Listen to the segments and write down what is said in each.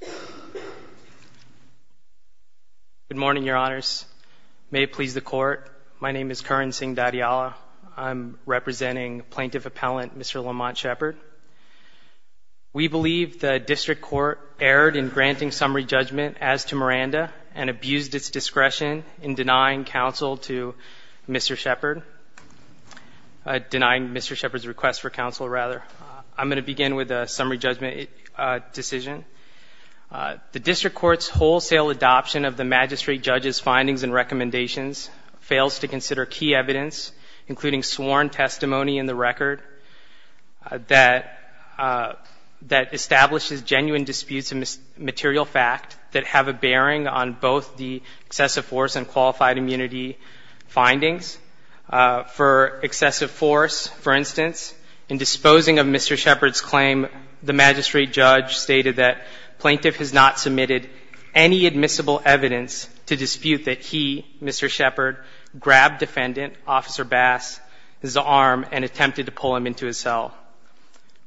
Good morning, Your Honors. May it please the Court, my name is Karan Singh Dadiyala. I'm representing Plaintiff Appellant Mr. Lamont Shepard. We believe the District Court erred in granting summary judgment as to Miranda and abused its discretion in denying counsel to Mr. Shepard. Denying Mr. Shepard's request for counsel, rather. I'm going to begin with decision. The District Court's wholesale adoption of the magistrate judge's findings and recommendations fails to consider key evidence, including sworn testimony in the record, that establishes genuine disputes of material fact that have a bearing on both the excessive force and qualified immunity findings. For excessive force, for instance, in disposing of Mr. Shepard's claim, the magistrate judge stated that Plaintiff has not submitted any admissible evidence to dispute that he, Mr. Shepard, grabbed Defendant Officer Bass's arm and attempted to pull him into his cell.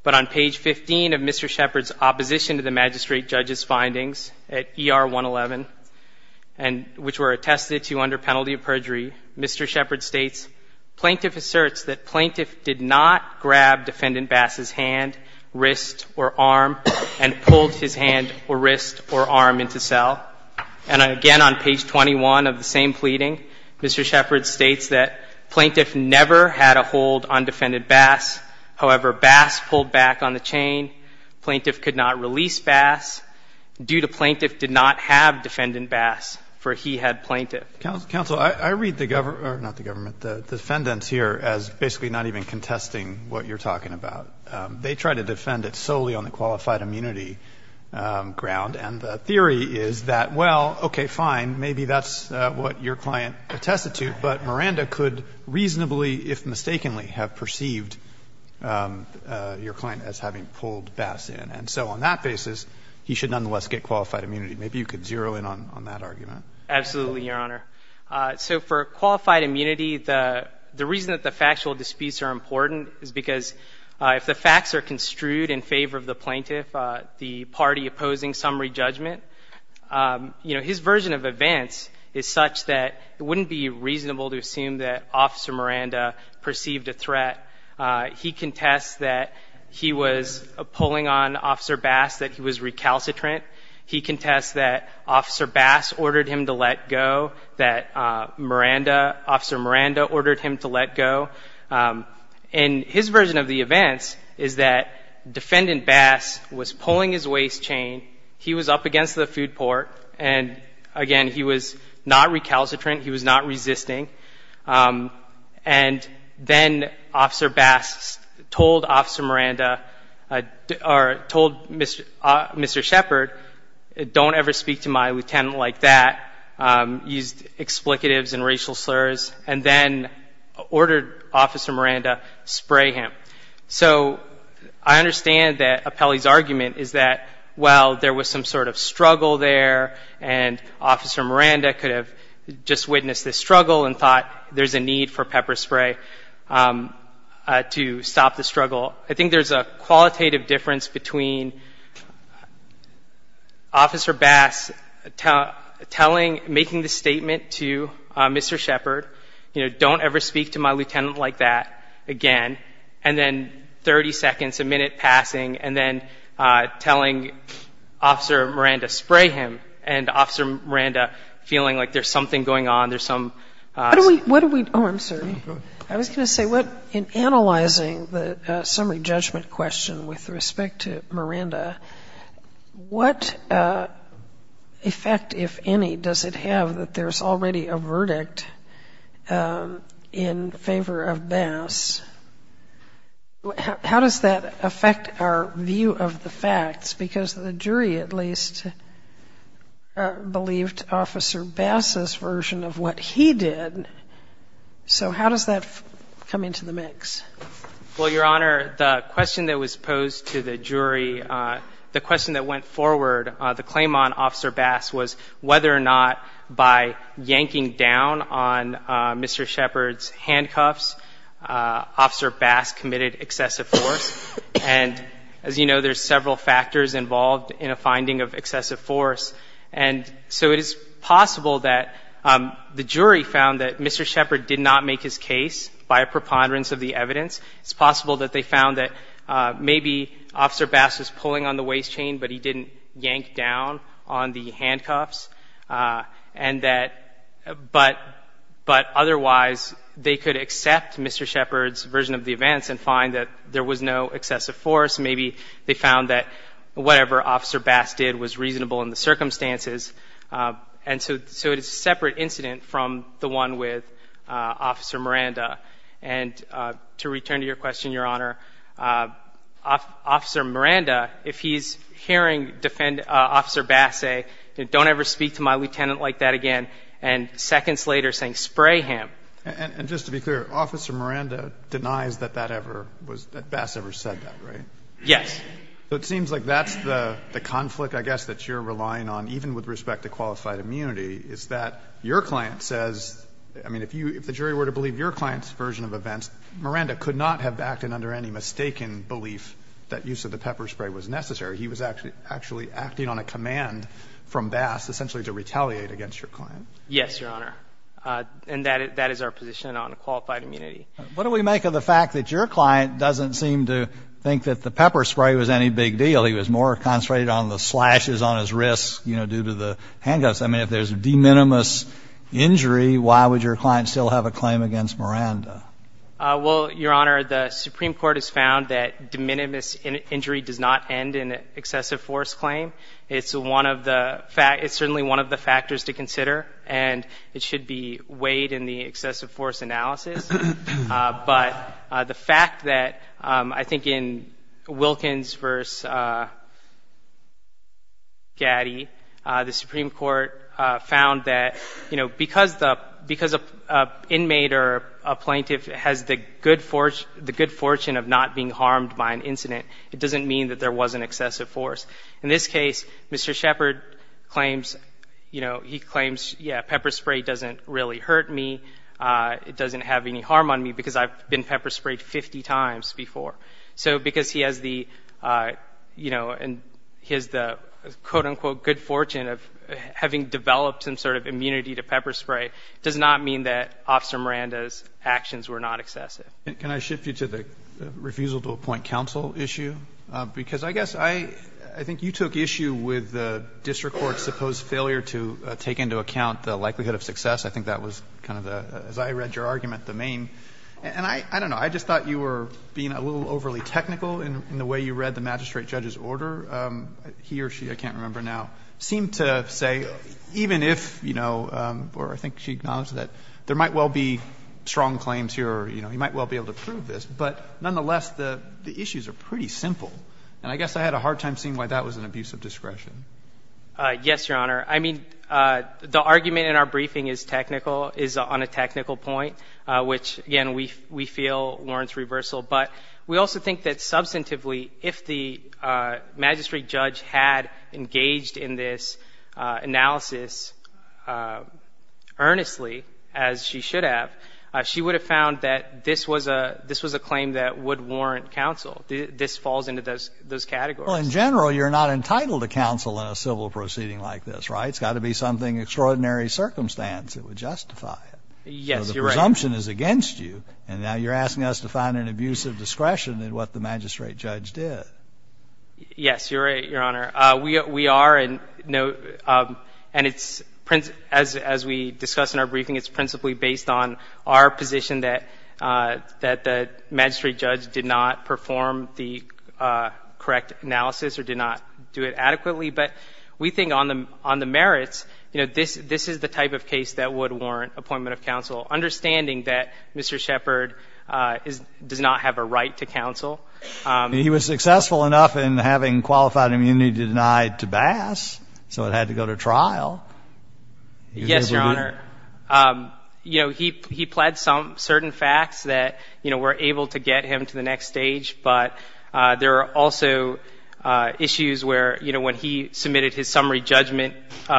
But on page 15 of Mr. Shepard's opposition to the magistrate judge's findings at ER 111, and which were attested to under penalty of perjury, Mr. Plaintiff asserts that Plaintiff did not grab Defendant Bass's hand, wrist, or arm, and pulled his hand or wrist or arm into cell. And again on page 21 of the same pleading, Mr. Shepard states that Plaintiff never had a hold on Defendant Bass. However, Bass pulled back on the chain. Plaintiff could not release Bass due to Plaintiff did not have Defendant Bass, for he had Plaintiff. Roberts, counsel, I read the government, not the government, the defendants here as basically not even contesting what you're talking about. They try to defend it solely on the qualified immunity ground, and the theory is that, well, okay, fine, maybe that's what your client attested to, but Miranda could reasonably, if mistakenly, have perceived your client as having pulled Bass in. And so on that basis, he should nonetheless get qualified immunity. Maybe you could zero in on that argument. Absolutely, Your Honor. So for qualified immunity, the reason that the factual disputes are important is because if the facts are construed in favor of the Plaintiff, the party opposing summary judgment, you know, his version of events is such that it wouldn't be reasonable to assume that Officer Miranda perceived a threat. He contests that he was pulling on him to let go, that Miranda, Officer Miranda ordered him to let go. And his version of the events is that Defendant Bass was pulling his waist chain, he was up against the food port, and again, he was not recalcitrant, he was not resisting. And then Officer Bass told Officer Miranda, or told Mr. Shepard, don't ever speak to my lieutenant like that used explicatives and racial slurs, and then ordered Officer Miranda spray him. So I understand that Apelli's argument is that, well, there was some sort of struggle there, and Officer Miranda could have just witnessed this struggle and thought there's a need for pepper spray to stop the struggle. I think there's a qualitative difference between Officer Bass telling Mr. Shepard, making the statement to Mr. Shepard, you know, don't ever speak to my lieutenant like that again, and then 30 seconds, a minute passing, and then telling Officer Miranda spray him, and Officer Miranda feeling like there's something going on, there's some ‑‑ What are we ‑‑ oh, I'm sorry. I was going to say, in analyzing the summary judgment question with respect to Miranda, what effect, if any, does it have that there's already a verdict in favor of Bass? How does that affect our view of the facts? Because the jury at least believed Officer Bass's version of what he did. So how does that come into the mix? Well, Your Honor, the question that was posed to the jury, the question that went forward, the claim on Officer Bass was whether or not by yanking down on Mr. Shepard's handcuffs, Officer Bass committed excessive force. And as you know, there's several factors involved in a finding of excessive force. And so it is possible that the jury found that Mr. Shepard did not make his case by a preponderance of the evidence. It's possible that they found that maybe Officer Bass was pulling on the waist chain, but he didn't yank down on the handcuffs. And that ‑‑ but otherwise, they could accept Mr. Shepard's version of the events and find that there was no excessive force. Maybe they found that whatever Officer Bass did was reasonable in the circumstances. And so it's a separate incident from the one with Officer Miranda. And to return to your question, Your Honor, Officer Miranda, if he's hearing Officer Bass say, don't ever speak to my lieutenant like that again, and seconds later saying, spray him. And just to be clear, Officer Miranda denies that that ever was ‑‑ that Bass ever said that, right? Yes. So it seems like that's the conflict, I guess, that you're relying on even with respect to I mean, if the jury were to believe your client's version of events, Miranda could not have acted under any mistaken belief that use of the pepper spray was necessary. He was actually acting on a command from Bass essentially to retaliate against your client. Yes, Your Honor. And that is our position on qualified immunity. What do we make of the fact that your client doesn't seem to think that the pepper spray was any big deal? He was more concentrated on the slashes on his wrist, you know, due to the handguns. I mean, if there's a de minimis injury, why would your client still have a claim against Miranda? Well, Your Honor, the Supreme Court has found that de minimis injury does not end in an excessive force claim. It's one of the ‑‑ it's certainly one of the factors to consider, and it should be weighed in the excessive force analysis. But the fact that I think in Wilkins v. Gaddy, the fact that the excessive force analysis, the Supreme Court found that, you know, because the ‑‑ because an inmate or a plaintiff has the good fortune of not being harmed by an incident, it doesn't mean that there was an excessive force. In this case, Mr. Shepard claims, you know, he claims, yeah, pepper spray doesn't really hurt me. It doesn't have any harm on me because I've been pepper sprayed 50 times before. So because he has the, you know, and he has the, quote, unquote, good fortune of having developed some sort of immunity to pepper spray does not mean that Officer Miranda's actions were not excessive. Can I shift you to the refusal to appoint counsel issue? Because I guess I think you took issue with the district court's supposed failure to take into account the likelihood of success. I think that was kind of the ‑‑ as I read your argument, the main ‑‑ and I don't know. I just thought you were being a little overly technical in the way you read the magistrate judge's order. He or she, I can't remember now, seemed to say even if, you know, or I think she acknowledged that there might well be strong claims here or, you know, he might well be able to prove this. But nonetheless, the issues are pretty simple. And I guess I had a hard time seeing why that was an abuse of discretion. Yes, Your Honor. I mean, the argument in our briefing is technical, is on a technical point, which, again, we feel warrants reversal. But we also think that substantively, if the magistrate judge had engaged in this analysis earnestly, as she should have, she would have found that this was a claim that would warrant counsel. This falls into those categories. Well, in general, you're not entitled to counsel in a civil proceeding like this, right? It's got to be something extraordinary circumstance that would justify it. Yes, Your Honor. So the presumption is against you. And now you're asking us to find an abuse of discretion in what the magistrate judge did. Yes, Your Honor. We are, and it's, as we discussed in our briefing, it's principally based on our position that the magistrate judge did not perform the correct analysis or did not do it adequately. But we think on the merits, you know, this is the type of case that would warrant appointment of counsel, understanding that Mr. Shepard does not have a right to counsel. He was successful enough in having qualified immunity denied to Bass, so it had to go to trial. Yes, Your Honor. You know, he pled some certain facts that, you know, were able to get him to the next stage. But there are also issues where, you know, when he submitted his summary judgment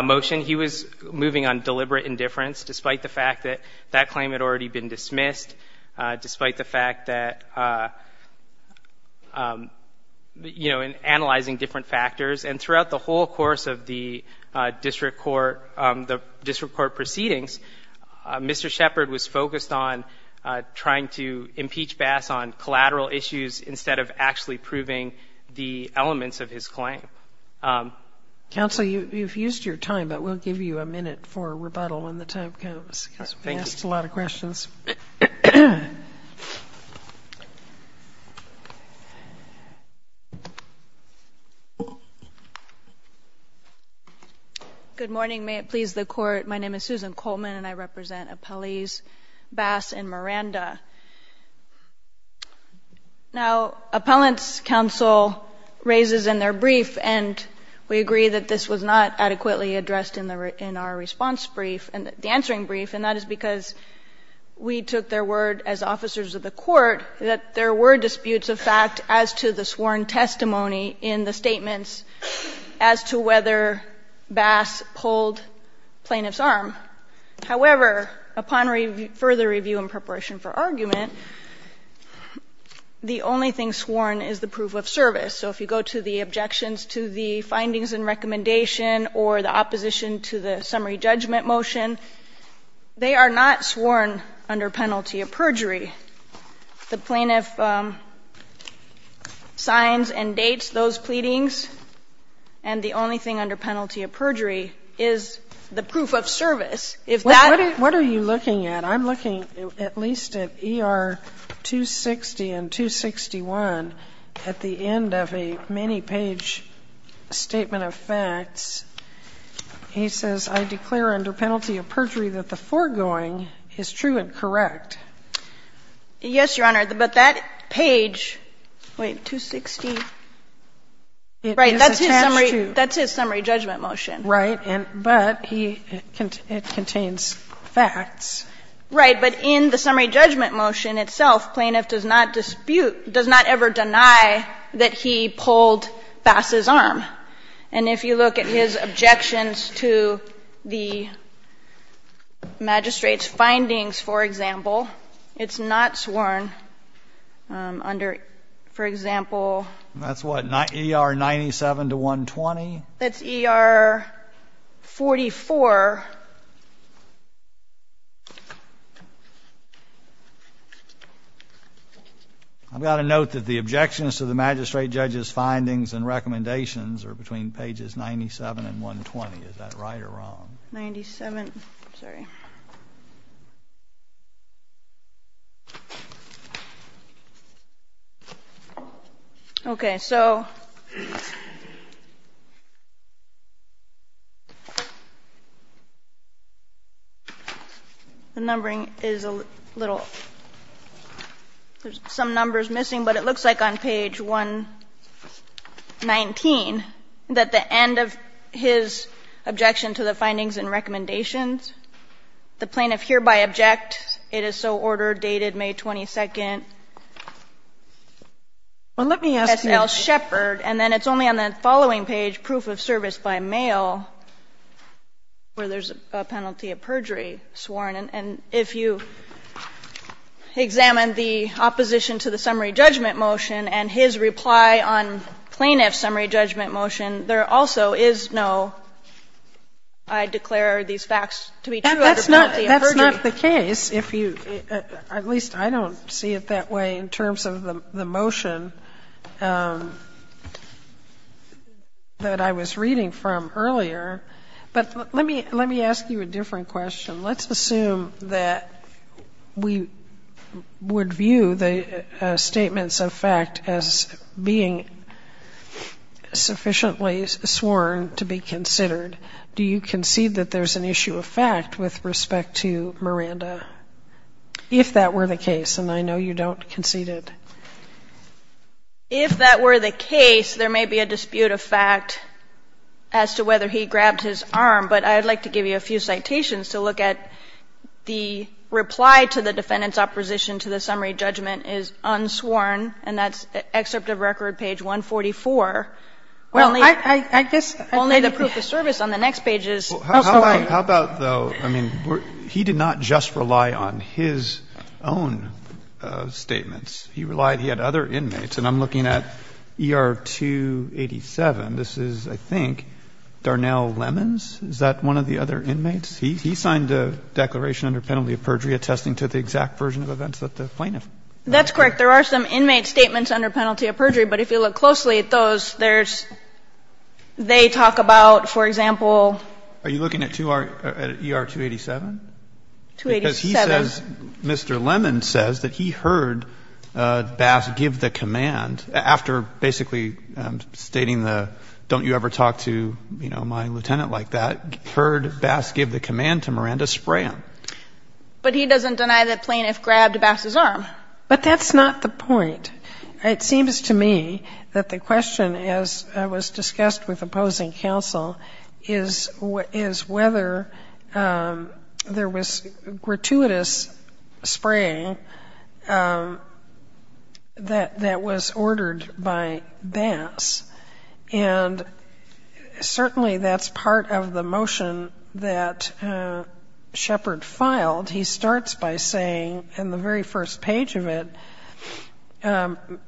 motion, he was moving on deliberate indifference, despite the fact that that claim had already been dismissed, despite the fact that, you know, in analyzing different factors. And throughout the whole course of the district court proceedings, Mr. Shepard was focused on trying to impeach Bass on collateral issues instead of actually proving the elements of his claim. Counsel, you've used your time, but we'll give you a minute for rebuttal when the time comes, because we've asked a lot of questions. Good morning. May it please the Court. My name is Susan Coleman, and I represent appellees Bass and Miranda. Now, appellants' counsel raises in their brief and in their brief, and we agree that this was not adequately addressed in the response brief, the answering brief, and that is because we took their word as officers of the court that there were disputes of fact as to the sworn testimony in the statements as to whether Bass pulled plaintiff's arm. However, upon further review in preparation for argument, the only thing sworn is the proof of service. So if you go to the objections to the findings and recommendation or the opposition to the summary judgment motion, they are not sworn under penalty of perjury. The plaintiff signs and dates those pleadings, and the only thing under penalty of perjury is the proof of service. If that was the case, the plaintiff would not be sworn under penalty of perjury. What are you looking at? I'm looking at least at ER 260 and 261 at the end of a many-page statement of facts. He says, I declare under penalty of perjury that the foregoing is true and correct. Yes, Your Honor, but that page, wait, 260, right, that's his summary judgment motion. Right. But it contains facts. Right. But in the summary judgment motion itself, plaintiff does not dispute, does not ever deny that he pulled Fass' arm. And if you look at his objections to the magistrate's findings, for example, it's not sworn under, for example ---- That's what, ER 97 to 120? That's ER 44. I've got to note that the objections to the magistrate judge's findings and recommendations are between pages 97 and 120. Is that right or wrong? Ninety-seven. I'm sorry. Okay. So the numbering is a little ---- there's some numbers missing, but it looks like on page 119, at the end of his objection to the findings and recommendations, the plaintiff hereby object. It is so ordered, dated May 22nd. Well, let me ask you ---- S.L. Shepherd, and then it's only on the following page, proof of service by mail, where there's a penalty of perjury sworn. And if you examine the opposition to the summary judgment motion and his reply on plaintiff's summary judgment motion, there also is no, I declare these facts to be true under penalty of perjury. Sotomayor, that's not the case, if you ---- at least I don't see it that way in terms of the motion that I was reading from earlier. But let me ask you a different question. Let's assume that we would view the statements of fact as being sufficiently sworn to be considered. Do you concede that there's an issue of fact with respect to Miranda, if that were the case? And I know you don't concede it. If that were the case, there may be a dispute of fact as to whether he grabbed his arm, but I'd like to give you a few citations to look at. The reply to the defendant's opposition to the summary judgment is unsworn, and that's excerpt of record page 144. Only ---- Well, I guess ---- Only the proof of service on the next page is unsworn. How about, though, I mean, he did not just rely on his own statements. He relied he had other inmates. And I'm looking at ER 287. This is, I think, Darnell Lemons. Is that one of the other inmates? He signed a declaration under penalty of perjury attesting to the exact version of events that the plaintiff ---- That's correct. There are some inmate statements under penalty of perjury, but if you look closely at those, there's ---- they talk about, for example ---- Are you looking at ER 287? 287. Because he says, Mr. Lemons says that he heard Bass give the command, after basically stating the don't you ever talk to, you know, my lieutenant like that, heard Bass give the command to Miranda Sprann. But he doesn't deny that plaintiff grabbed Bass's arm. But that's not the point. It seems to me that the question, as was discussed with opposing counsel, is whether there was gratuitous spraying that was ordered by Bass. And certainly that's part of the motion that Shepard filed. He starts by saying in the very first page of it,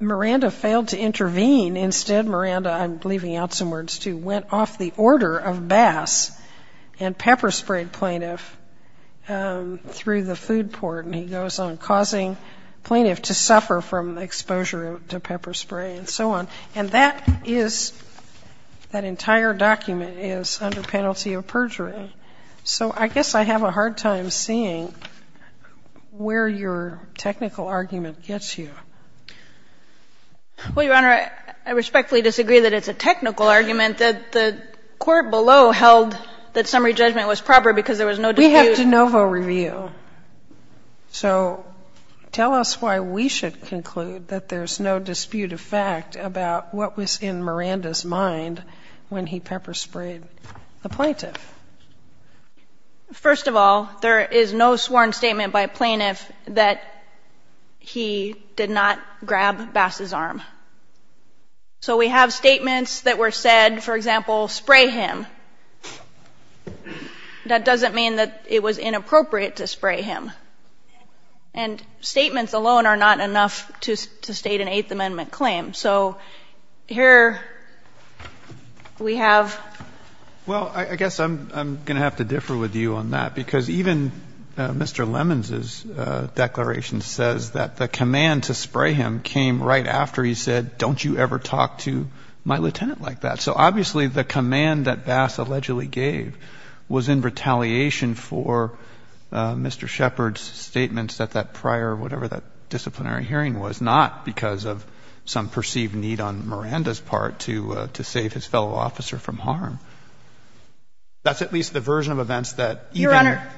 Miranda failed to intervene. Instead, Miranda, I'm leaving out some words, too, went off the order of Bass and pepper-sprayed plaintiff through the food port. And he goes on, causing plaintiff to suffer from exposure to pepper spray and so on. And that is ---- that entire document is under penalty of perjury. So I guess I have a hard time seeing where your technical argument gets you. Well, Your Honor, I respectfully disagree that it's a technical argument, that the court below held that summary judgment was proper because there was no dispute. We have de novo review. So tell us why we should conclude that there's no dispute of fact about what was in Miranda's mind when he pepper-sprayed the plaintiff. First of all, there is no sworn statement by plaintiff that he did not grab Bass's arm. So we have statements that were said, for example, spray him. That doesn't mean that it was inappropriate to spray him. And statements alone are not enough to state an Eighth Amendment claim. So here we have ---- Well, I guess I'm going to have to differ with you on that because even Mr. Lemons' declaration says that the command to spray him came right after he said, don't you ever talk to my lieutenant like that. So obviously the command that Bass allegedly gave was in retaliation for Mr. Shepard's statements that that prior, whatever that disciplinary hearing was, not because of some perceived need on Miranda's part to save his fellow officer from harm. That's at least the version of events that even ---- Your Honor,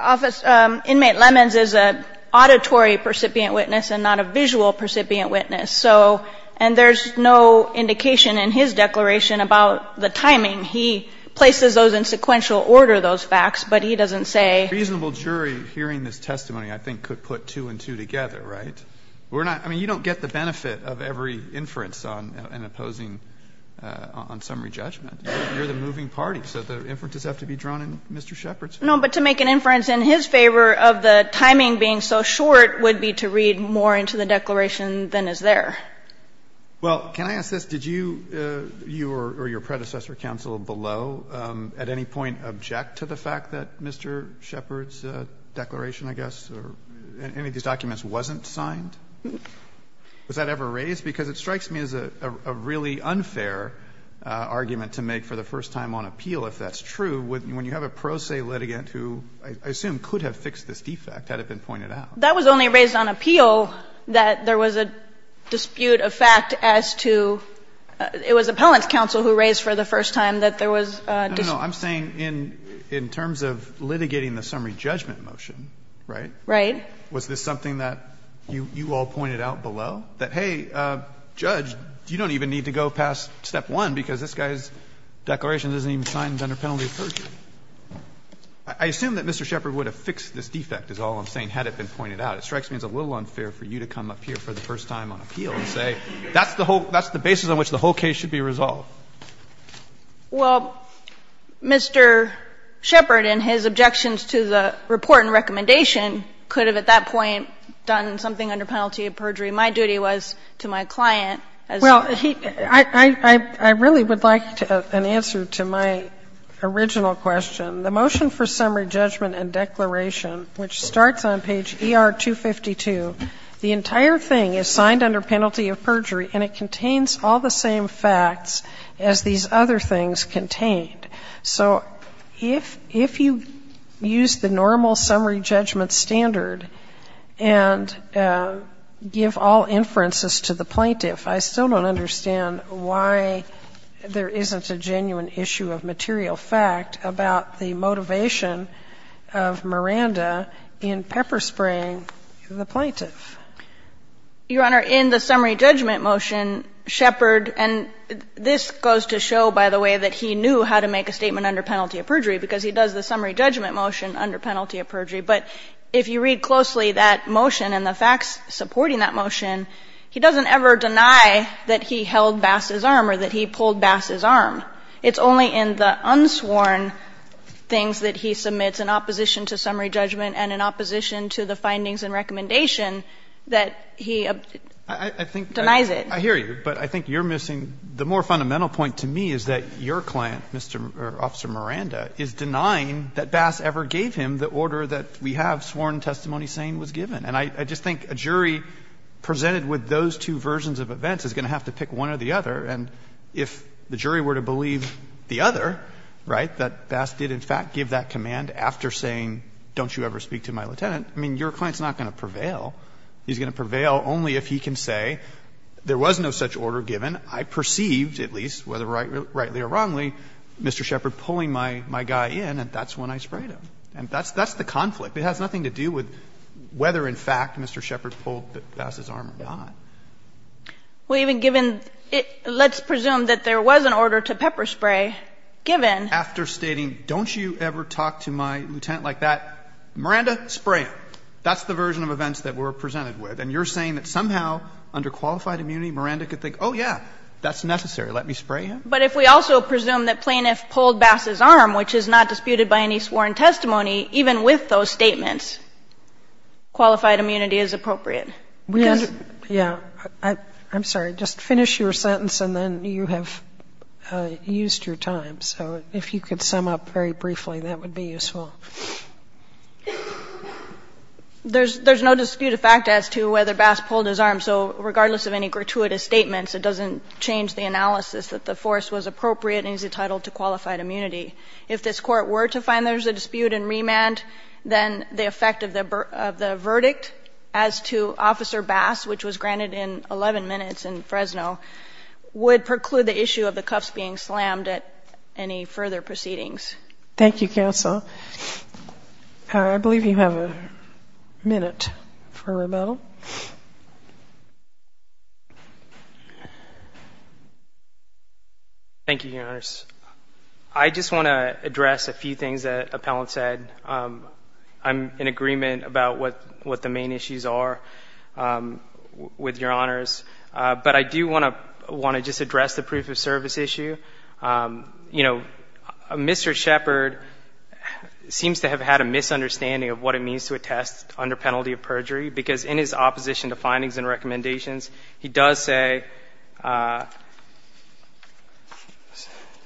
Office ---- Inmate Lemons is an auditory percipient witness and not a visual percipient witness. So ---- and there's no indication in his declaration about the timing. He places those in sequential order, those facts, but he doesn't say ---- A reasonable jury hearing this testimony, I think, could put two and two together, right? We're not ---- I mean, you don't get the benefit of every inference on an opposing on summary judgment. You're the moving party, so the inferences have to be drawn in Mr. Shepard's favor. No, but to make an inference in his favor of the timing being so short would be to read more into the declaration than is there. Well, can I ask this? Did you or your predecessor counsel below at any point object to the fact that Mr. Shepard's declaration, I guess, or any of these documents wasn't signed? Was that ever raised? Because it strikes me as a really unfair argument to make for the first time on appeal, if that's true, when you have a pro se litigant who I assume could have fixed this defect had it been pointed out. That was only raised on appeal that there was a dispute of fact as to ---- it was appellant's counsel who raised for the first time that there was a dispute. No, no, no. I'm saying in terms of litigating the summary judgment motion, right? Right. Was this something that you all pointed out below, that, hey, Judge, you don't even need to go past step one because this guy's declaration doesn't even sign it under penalty of perjury? I assume that Mr. Shepard would have fixed this defect, is all I'm saying, had it been pointed out. It strikes me as a little unfair for you to come up here for the first time on appeal and say that's the whole ---- that's the basis on which the whole case should be resolved. Well, Mr. Shepard in his objections to the report and recommendation could have insisted that he had, at that point, done something under penalty of perjury. My duty was to my client as a ---- Well, he ---- I really would like an answer to my original question. The motion for summary judgment and declaration, which starts on page ER-252, the entire thing is signed under penalty of perjury and it contains all the same facts as these other things contained. So if you use the normal summary judgment standard and give all inferences to the plaintiff, I still don't understand why there isn't a genuine issue of material fact about the motivation of Miranda in pepper spraying the plaintiff. Your Honor, in the summary judgment motion, Shepard, and this goes to show, by the way, that he knew how to make a statement under penalty of perjury because he does the summary judgment motion under penalty of perjury. But if you read closely that motion and the facts supporting that motion, he doesn't ever deny that he held Bass's arm or that he pulled Bass's arm. It's only in the unsworn things that he submits in opposition to summary judgment and in opposition to the findings and recommendation that he denies it. I hear you, but I think you're missing the more fundamental point to me is that your client, Mr. or Officer Miranda, is denying that Bass ever gave him the order that we have sworn testimony saying was given. And I just think a jury presented with those two versions of events is going to have to pick one or the other. And if the jury were to believe the other, right, that Bass did in fact give that command after saying, don't you ever speak to my lieutenant, I mean, your client is not going to prevail. He's going to prevail only if he can say there was no such order given. I perceived, at least, whether rightly or wrongly, Mr. Shepard pulling my guy in and that's when I sprayed him. And that's the conflict. It has nothing to do with whether in fact Mr. Shepard pulled Bass's arm or not. Kagan. Well, even given the let's presume that there was an order to pepper spray given. After stating, don't you ever talk to my lieutenant like that, Miranda, spray him. That's the version of events that we're presented with. And you're saying that somehow under qualified immunity, Miranda could think, oh, yeah, that's necessary, let me spray him? But if we also presume that plaintiff pulled Bass's arm, which is not disputed by any sworn testimony, even with those statements, qualified immunity is appropriate. Because we have to be fair to each other. Sotomayor, I'm sorry, just finish your sentence and then you have used your time. So if you could sum up very briefly, that would be useful. There's no dispute of fact as to whether Bass pulled his arm. So regardless of any gratuitous statements, it doesn't change the analysis that the force was appropriate and he's entitled to qualified immunity. If this Court were to find there's a dispute and remand, then the effect of the verdict as to Officer Bass, which was granted in 11 minutes in Fresno, would preclude the issue of the cuffs being slammed at any further proceedings. Thank you, counsel. I believe you have a minute for rebuttal. Thank you, Your Honors. I just want to address a few things that Appellant said. I'm in agreement about what the main issues are with Your Honors. But I do want to just address the proof of service issue. You know, Mr. Shepard seems to have had a misunderstanding of what it means to attest under penalty of perjury, because in his opposition to findings and recommendations, he does say —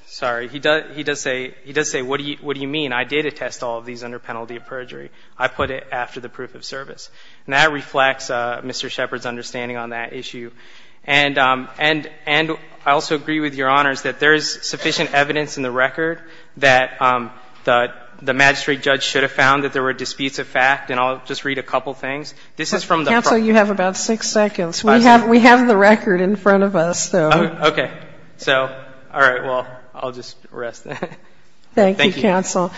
sorry, he does say, he does say, what do you mean, I did attest all of these under penalty of perjury, I put it after the proof of service. And that reflects Mr. Shepard's understanding on that issue. And I also agree with Your Honors that there is sufficient evidence in the record that the magistrate judge should have found that there were disputes of fact. And I'll just read a couple of things. This is from the — Counsel, you have about six seconds. We have the record in front of us, so — Okay. So, all right, well, I'll just rest. Thank you, counsel.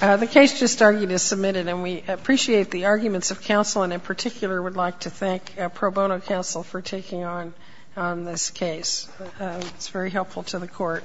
The case just argued is submitted, and we appreciate the arguments of counsel, and in particular would like to thank pro bono counsel for taking on this case. It's very helpful to the court.